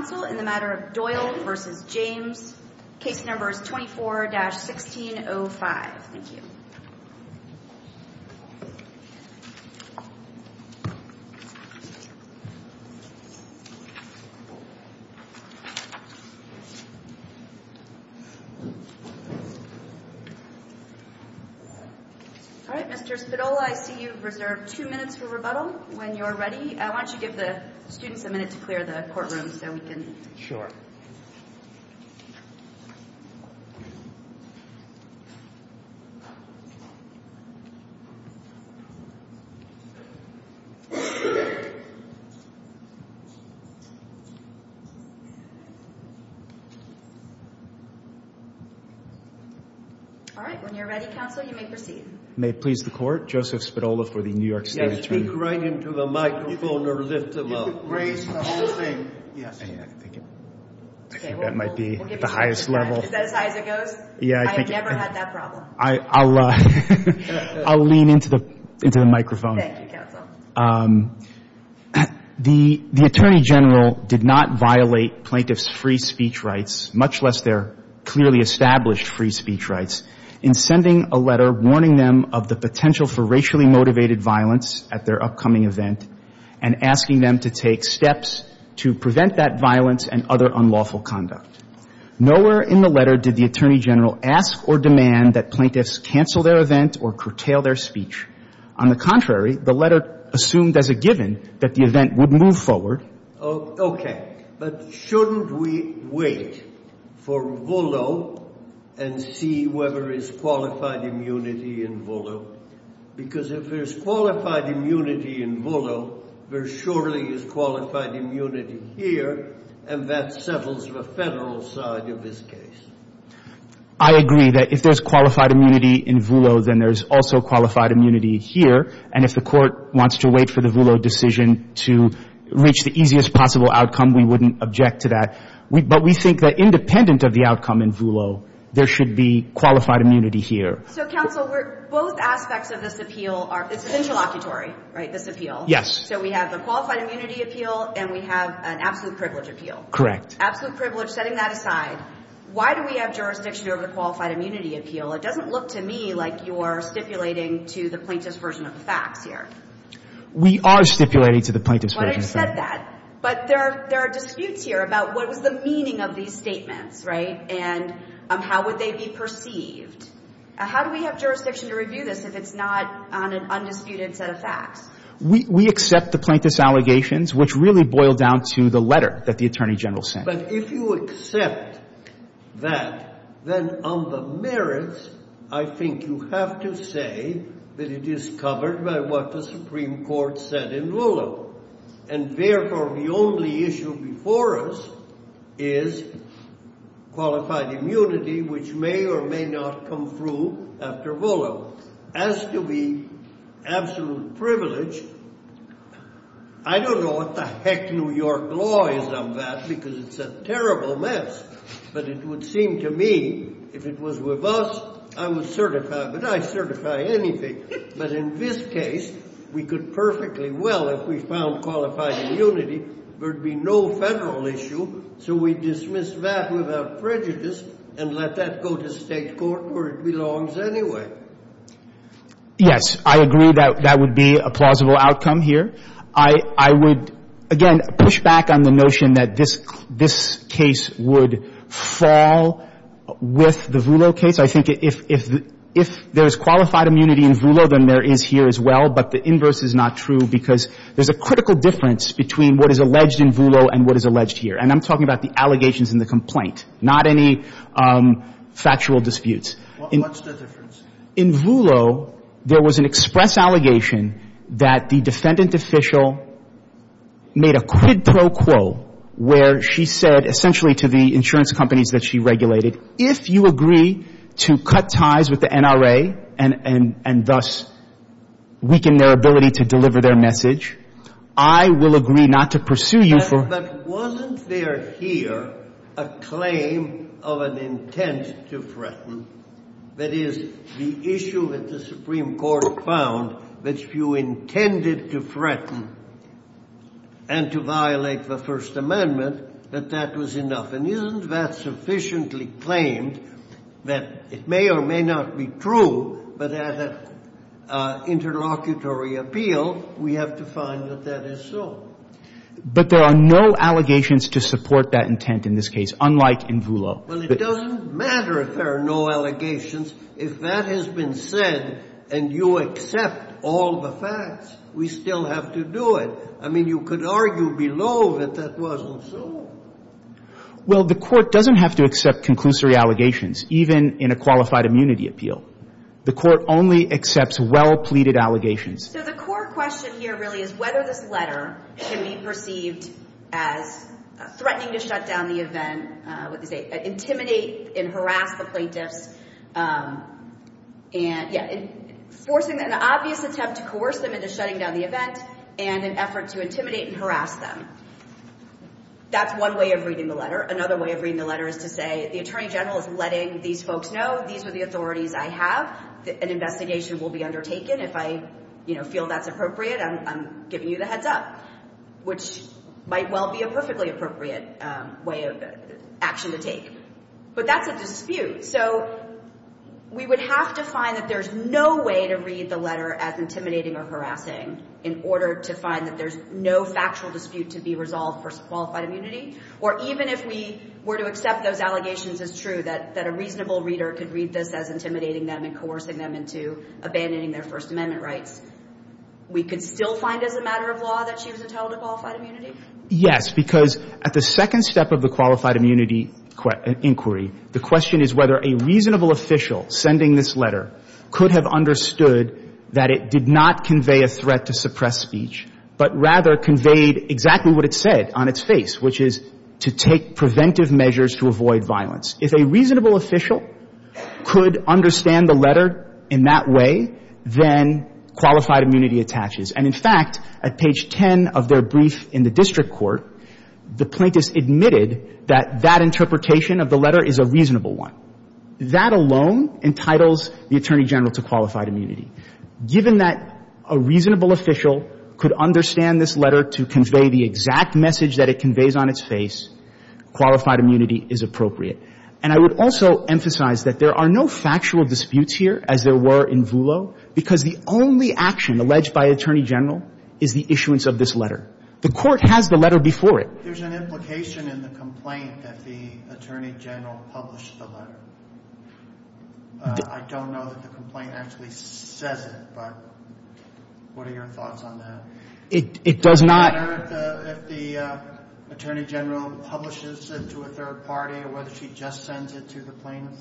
24-1605 Mr. Spadola, I see you have reserved two minutes for rebuttal when you are ready. I want you to give the students a minute to clear the courtrooms so we can... All right. When you are ready, counsel, you may proceed. May it please the Court, Joseph Spadola for the New York State Attorney. I'll lean into the microphone. The Attorney General did not violate plaintiffs' free speech rights, much less their clearly established free speech rights, in sending a letter warning them of the potential for racially motivated violence at their upcoming event and asking them to take steps to prevent that violence and other unlawful conduct. Nowhere in the letter did the Attorney General ask or demand that plaintiffs cancel their event or curtail their speech. On the contrary, the letter assumed as a given that the event would move forward. Okay. But shouldn't we wait for Voolo and see whether there is qualified immunity in Voolo? Because if there is qualified immunity in Voolo, there surely is qualified immunity here, and that settles the Federal side of this case. I agree that if there is qualified immunity in Voolo, then there is also qualified immunity here. And if the Court wants to wait for the Voolo decision to reach the easiest possible outcome, we wouldn't object to that. But we think that independent of the outcome in Voolo, there should be qualified immunity here. So, counsel, both aspects of this appeal are interlocutory, right, this appeal. Yes. So we have the qualified immunity appeal and we have an absolute privilege appeal. Correct. Absolute privilege, setting that aside, why do we have jurisdiction over the qualified immunity appeal? It doesn't look to me like you're stipulating to the plaintiff's version of the facts here. We are stipulating to the plaintiff's version of the facts. But I said that. But there are disputes here about what was the meaning of these statements, right, and how would they be perceived. How do we have jurisdiction to review this if it's not on an undisputed set of facts? We accept the plaintiff's allegations, which really boil down to the letter that the Attorney General sent. But if you accept that, then on the merits, I think you have to say that it is covered by what the Supreme Court said in Voolo. And, therefore, the only issue before us is qualified immunity, which may or may not come through after Voolo. As to the absolute privilege, I don't know what the heck New York law is on that because it's a terrible mess. But it would seem to me, if it was with us, I would certify, but I certify anything. But in this case, we could perfectly well, if we found qualified immunity, there would be no federal issue. So we dismiss that without prejudice and let that go to State court where it belongs anyway. Yes. I agree that that would be a plausible outcome here. I would, again, push back on the notion that this case would fall with the Voolo case. I think if there's qualified immunity in Voolo, then there is here as well. But the inverse is not true because there's a critical difference between what is alleged in Voolo and what is alleged here. And I'm talking about the allegations in the complaint, not any factual disputes. What's the difference? In Voolo, there was an express allegation that the defendant official made a quid pro quo where she said, essentially, to the insurance companies that she regulated, if you agree to cut ties with the NRA and thus weaken their ability to deliver their message, I will agree not to pursue you for. But wasn't there here a claim of an intent to threaten that is the issue that the Supreme Court found that if you intended to threaten and to violate the First Amendment, that that was enough? And isn't that sufficiently claimed that it may or may not be true, but at an interlocutory appeal, we have to find that that is so? But there are no allegations to support that intent in this case, unlike in Voolo. Well, it doesn't matter if there are no allegations. If that has been said and you accept all the facts, we still have to do it. I mean, you could argue below that that wasn't so. Well, the Court doesn't have to accept conclusory allegations, even in a qualified immunity appeal. The Court only accepts well-pleaded allegations. So the core question here really is whether this letter can be perceived as threatening to shut down the event, intimidate and harass the plaintiffs, and forcing an obvious attempt to coerce them into shutting down the event and an effort to intimidate and harass them. That's one way of reading the letter. Another way of reading the letter is to say the Attorney General is letting these folks know these are the authorities I have, an investigation will be undertaken. If I feel that's appropriate, I'm giving you the heads up, which might well be a perfectly appropriate way of action to take. But that's a dispute. So we would have to find that there's no way to read the letter as intimidating or harassing in order to find that there's no factual dispute to be resolved for qualified immunity, or even if we were to accept those allegations as true, that a reasonable reader could read this as intimidating them and coercing them into abandoning their First Amendment rights, we could still find as a matter of law that she was entitled to qualified immunity? Yes, because at the second step of the qualified immunity inquiry, the question is whether a reasonable official sending this letter could have understood that it did not convey a threat to suppress speech, but rather conveyed exactly what it said on its face, which is to take preventive measures to avoid violence. If a reasonable official could understand the letter in that way, then qualified immunity attaches. And, in fact, at page 10 of their brief in the district court, the plaintiffs admitted that that interpretation of the letter is a reasonable one. That alone entitles the Attorney General to qualified immunity. Given that a reasonable official could understand this letter to convey the exact message that it conveys on its face, qualified immunity is appropriate. And I would also emphasize that there are no factual disputes here, as there were in Voolo, because the only action alleged by Attorney General is the issuance of this letter. The Court has the letter before it. There's an implication in the complaint that the Attorney General published the letter. I don't know that the complaint actually says it, but what are your thoughts on that? It does not. Does it matter if the Attorney General publishes it to a third party or whether she just sends it to the plaintiffs?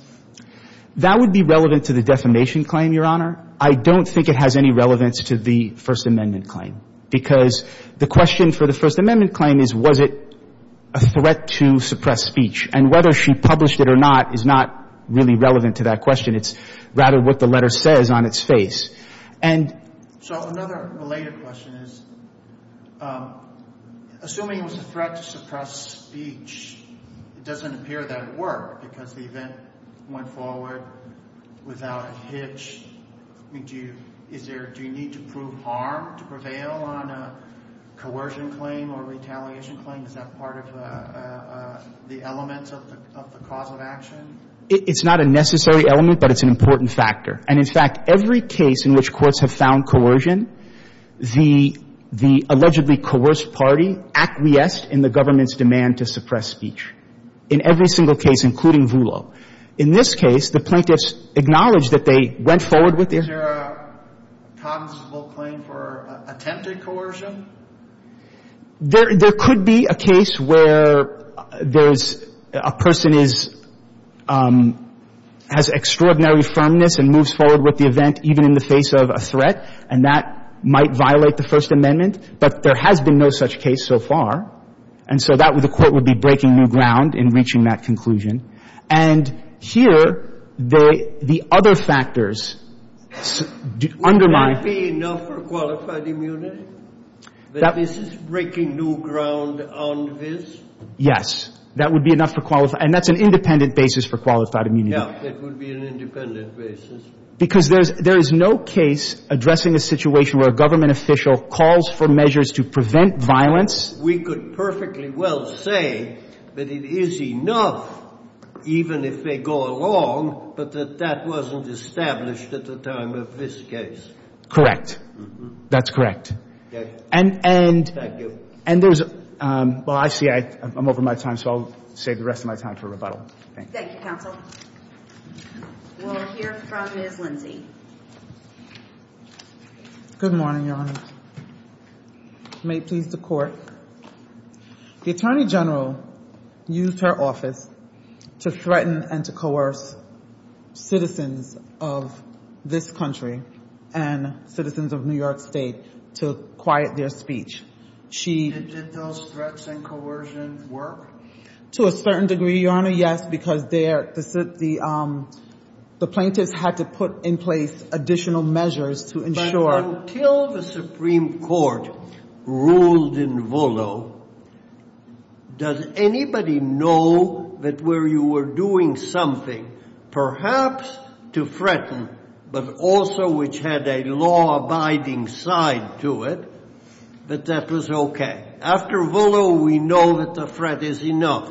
That would be relevant to the defamation claim, Your Honor. I don't think it has any relevance to the First Amendment claim, because the question for the First Amendment claim is, was it a threat to suppress speech? And whether she published it or not is not really relevant to that question. It's rather what the letter says on its face. So another related question is, assuming it was a threat to suppress speech, it doesn't appear that it worked, because the event went forward without a hitch. Do you need to prove harm to prevail on a coercion claim or retaliation claim? Is that part of the element of the cause of action? It's not a necessary element, but it's an important factor. And, in fact, every case in which courts have found coercion, the allegedly coerced party acquiesced in the government's demand to suppress speech, in every single case, including Voolo. In this case, the plaintiffs acknowledged that they went forward with their — Is there a consensual claim for attempted coercion? There could be a case where there's — a person is — has extraordinary firmness and moves forward with the event even in the face of a threat, and that might violate the First Amendment. But there has been no such case so far. And so that would — the Court would be breaking new ground in reaching that conclusion. And here, the other factors undermine — Would there be enough for qualified immunity? That — This is breaking new ground on this? Yes. That would be enough for qualified — and that's an independent basis for qualified immunity. Yeah, it would be an independent basis. Because there is no case addressing a situation where a government official calls for measures to prevent violence. We could perfectly well say that it is enough, even if they go along, but that that wasn't established at the time of this case. Correct. That's correct. And — Thank you. And there's — well, I see I'm over my time, so I'll save the rest of my time for rebuttal. Thank you. Thank you, counsel. We'll hear from Ms. Lindsey. Good morning, Your Honor. May it please the Court. The Attorney General used her office to threaten and to coerce citizens of this country and citizens of New York State to quiet their speech. She — Did those threats and coercion work? To a certain degree, Your Honor, yes, because the plaintiffs had to put in place additional measures to ensure — But until the Supreme Court ruled in Volo, does anybody know that where you were doing something perhaps to threaten, but also which had a law-abiding side to it, that that was okay? After Volo, we know that the threat is enough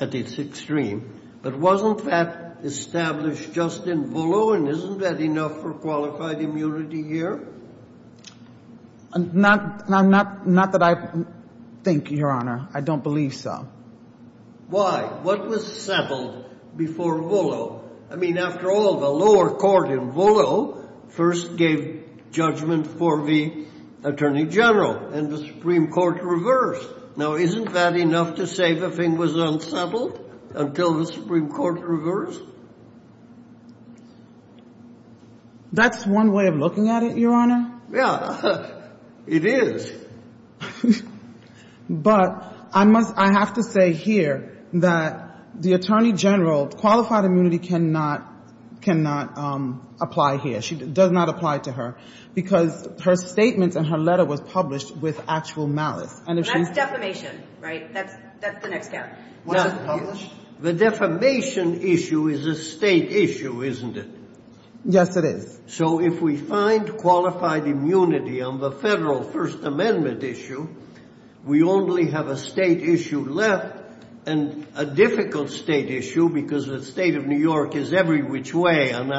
at its extreme, but wasn't that established just in Volo, and isn't that enough for qualified immunity here? Not that I think, Your Honor. I don't believe so. Why? What was settled before Volo? I mean, after all, the lower court in Volo first gave judgment for the Attorney General, and the Supreme Court reversed. Now, isn't that enough to say the thing was unsettled until the Supreme Court reversed? That's one way of looking at it, Your Honor. Yeah, it is. But I have to say here that the Attorney General, qualified immunity cannot apply here. It does not apply to her because her statements and her letter was published with actual malice. That's defamation, right? That's the next step. The defamation issue is a state issue, isn't it? Yes, it is. So if we find qualified immunity on the federal First Amendment issue, we only have a state issue left and a difficult state issue because the state of New York is every which way an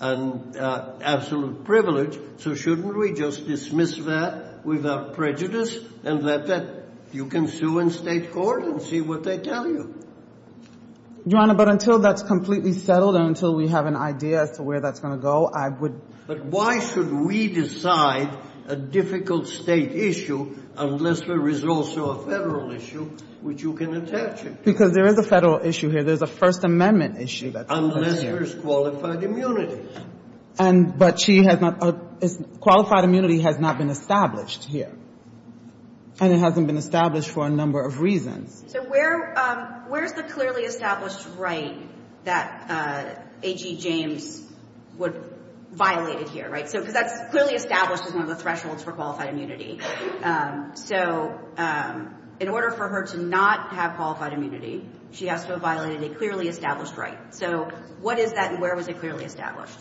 absolute privilege, so shouldn't we just dismiss that without prejudice and let that you can sue in state court and see what they tell you? Your Honor, but until that's completely settled and until we have an idea as to where that's going to go, I would But why should we decide a difficult state issue unless there is also a federal issue which you can attach it to? Because there is a federal issue here. There's a First Amendment issue that's over there. Unless there's qualified immunity. But she has not – qualified immunity has not been established here. And it hasn't been established for a number of reasons. So where's the clearly established right that A.G. James violated here, right? Because that's clearly established as one of the thresholds for qualified immunity. So in order for her to not have qualified immunity, she has to have violated a clearly established right. So what is that and where was it clearly established?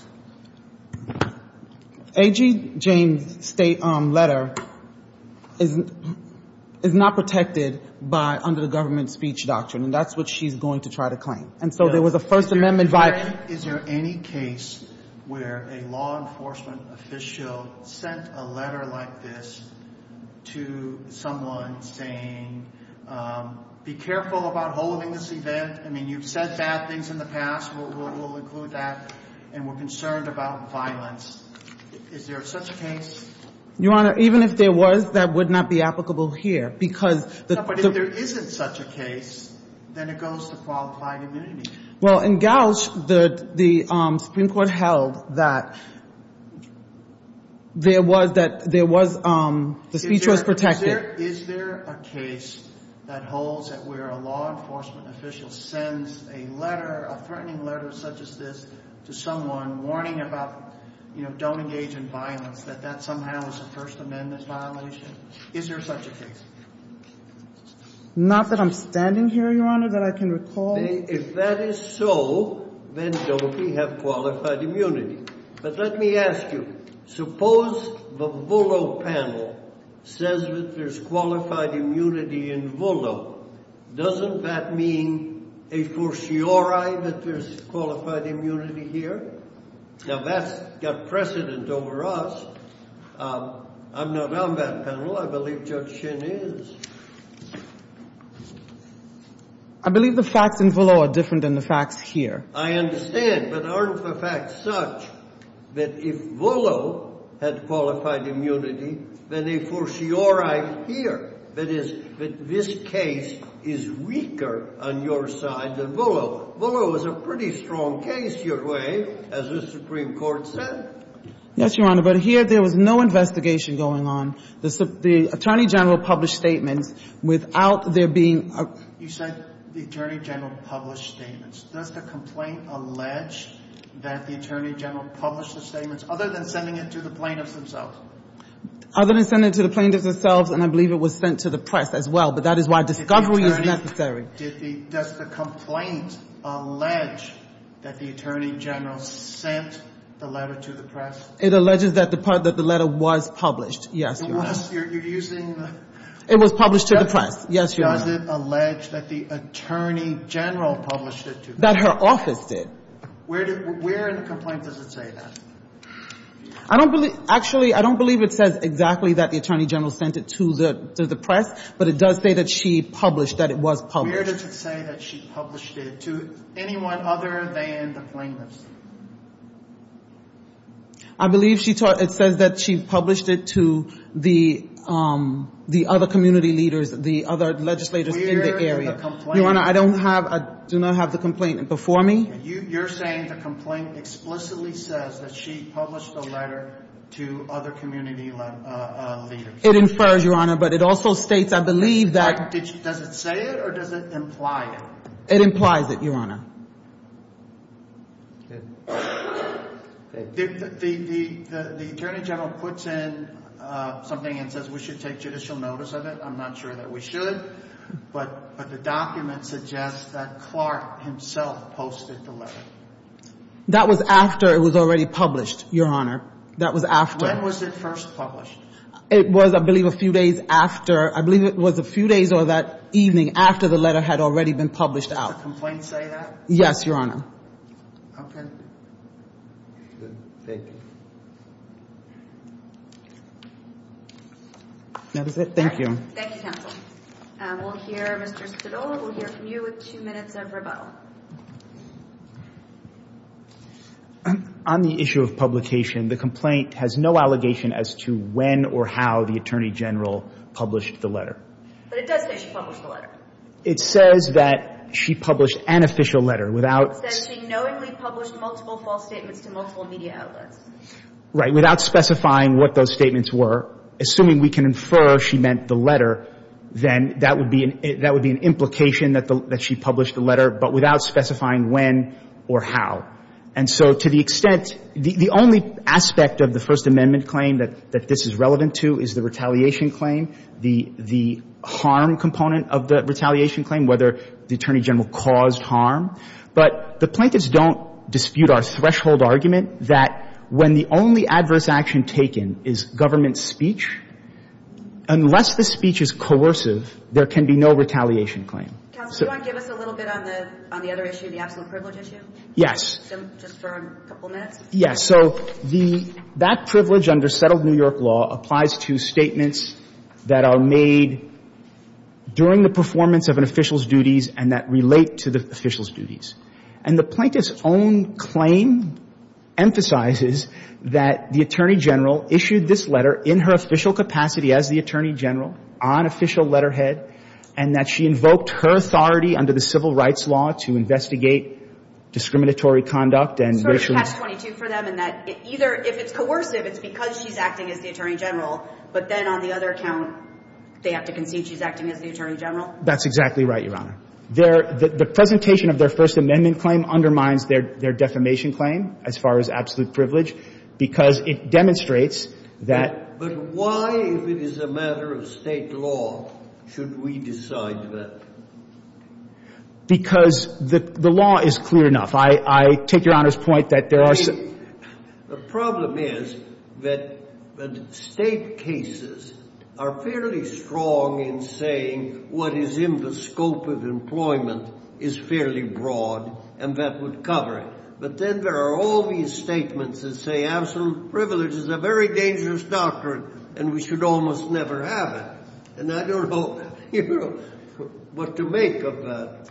A.G. James' letter is not protected by under the government speech doctrine, and that's what she's going to try to claim. And so there was a First Amendment violation. Is there any case where a law enforcement official sent a letter like this to someone saying be careful about holding this event? I mean, you've said bad things in the past. We'll include that. And we're concerned about violence. Is there such a case? Your Honor, even if there was, that would not be applicable here because the – But if there isn't such a case, then it goes to qualified immunity. Well, in Gauch, the Supreme Court held that there was – that there was – the speech was protected. Is there a case that holds that where a law enforcement official sends a letter, a threatening letter such as this, to someone warning about, you know, don't engage in violence, that that somehow is a First Amendment violation? Is there such a case? Not that I'm standing here, Your Honor, that I can recall. If that is so, then don't we have qualified immunity. But let me ask you, suppose the Vullo panel says that there's qualified immunity in Vullo. Doesn't that mean a fortiori that there's qualified immunity here? Now, that's got precedent over us. I'm not on that panel. I believe Judge Shin is. I believe the facts in Vullo are different than the facts here. I understand. But aren't the facts such that if Vullo had qualified immunity, then a fortiori here, that is, that this case is weaker on your side than Vullo? Vullo is a pretty strong case your way, as the Supreme Court said. Yes, Your Honor. But here there was no investigation going on. The Attorney General published statements without there being a – You said the Attorney General published statements. Does the complaint allege that the Attorney General published the statements other than sending it to the plaintiffs themselves? Other than sending it to the plaintiffs themselves, and I believe it was sent to the press as well, but that is why discovery is necessary. Does the complaint allege that the Attorney General sent the letter to the press? It alleges that the letter was published, yes, Your Honor. It was? You're using – It was published to the press, yes, Your Honor. Does it allege that the Attorney General published it to the press? That her office did. Where in the complaint does it say that? I don't believe – actually, I don't believe it says exactly that the Attorney General sent it to the press, but it does say that she published, that it was published. Where does it say that she published it to anyone other than the plaintiffs? I believe she – it says that she published it to the other community leaders, the other legislators in the area. Where in the complaint – Your Honor, I don't have – I do not have the complaint before me. You're saying the complaint explicitly says that she published the letter to other community leaders. It infers, Your Honor, but it also states, I believe, that – Does it say it or does it imply it? It implies it, Your Honor. Okay. The Attorney General puts in something and says we should take judicial notice of it. I'm not sure that we should, but the document suggests that Clark himself posted the letter. That was after it was already published, Your Honor. That was after – When was it first published? It was, I believe, a few days after – I believe it was a few days or that evening after the letter had already been published out. Does the complaint say that? Yes, Your Honor. Okay. Good. Thank you. That is it. Thank you. Thank you, counsel. We'll hear Mr. Stidall. We'll hear from you with two minutes of rebuttal. On the issue of publication, the complaint has no allegation as to when or how the Attorney General published the letter. But it does say she published the letter. It says that she published an official letter without – It says she knowingly published multiple false statements to multiple media outlets. Right. Without specifying what those statements were, assuming we can infer she meant the letter, then that would be an implication that she published the letter, but without specifying when or how. And so to the extent – the only aspect of the First Amendment claim that this is relevant to is the retaliation claim, the harm component of the retaliation claim, whether the Attorney General caused harm. But the plaintiffs don't dispute our threshold argument that when the only adverse action taken is government speech, unless the speech is coercive, there can be no retaliation claim. Counsel, do you want to give us a little bit on the other issue, the absolute privilege issue? Yes. Just for a couple minutes. Yes. So the – that privilege under settled New York law applies to statements that are made during the performance of an official's duties and that relate to the official's duties. And the plaintiff's own claim emphasizes that the Attorney General issued this letter in her official capacity as the Attorney General on official letterhead and that she invoked her authority under the civil rights law to investigate discriminatory conduct and racial – It's sort of catch-22 for them in that either if it's coercive, it's because she's acting as the Attorney General, but then on the other account, they have to concede she's acting as the Attorney General. That's exactly right, Your Honor. Their – the presentation of their First Amendment claim undermines their defamation claim as far as absolute privilege because it demonstrates that – But why, if it is a matter of State law, should we decide that? Because the law is clear enough. I take Your Honor's point that there are – The problem is that State cases are fairly strong in saying what is in the scope of employment is fairly broad and that would cover it. But then there are all these statements that say absolute privilege is a very dangerous doctrine and we should almost never have it. And I don't know, you know, what to make of that.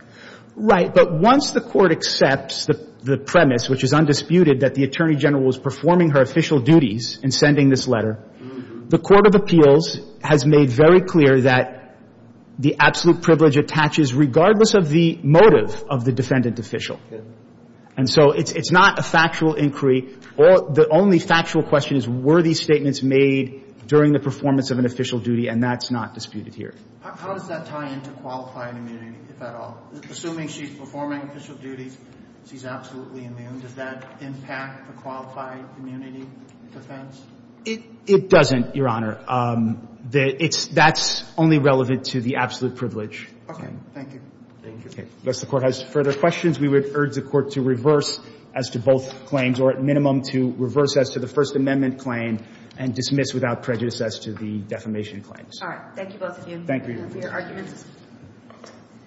Right. But once the Court accepts the premise, which is undisputed, that the Attorney General was performing her official duties in sending this letter, the Court of Appeals has made very clear that the absolute privilege attaches regardless of the motive of the defendant official. And so it's not a factual inquiry. The only factual question is were these statements made during the performance of an official duty, and that's not disputed here. How does that tie into qualifying immunity, if at all? Assuming she's performing official duties, she's absolutely immune, does that impact the qualifying immunity defense? It doesn't, Your Honor. That's only relevant to the absolute privilege. Okay. Thank you. Okay. Unless the Court has further questions, we would urge the Court to reverse as to both claims or at minimum to reverse as to the First Amendment claim and dismiss without prejudice as to the defamation claims. All right. Thank you, both of you. Thank you. Thank you for your arguments.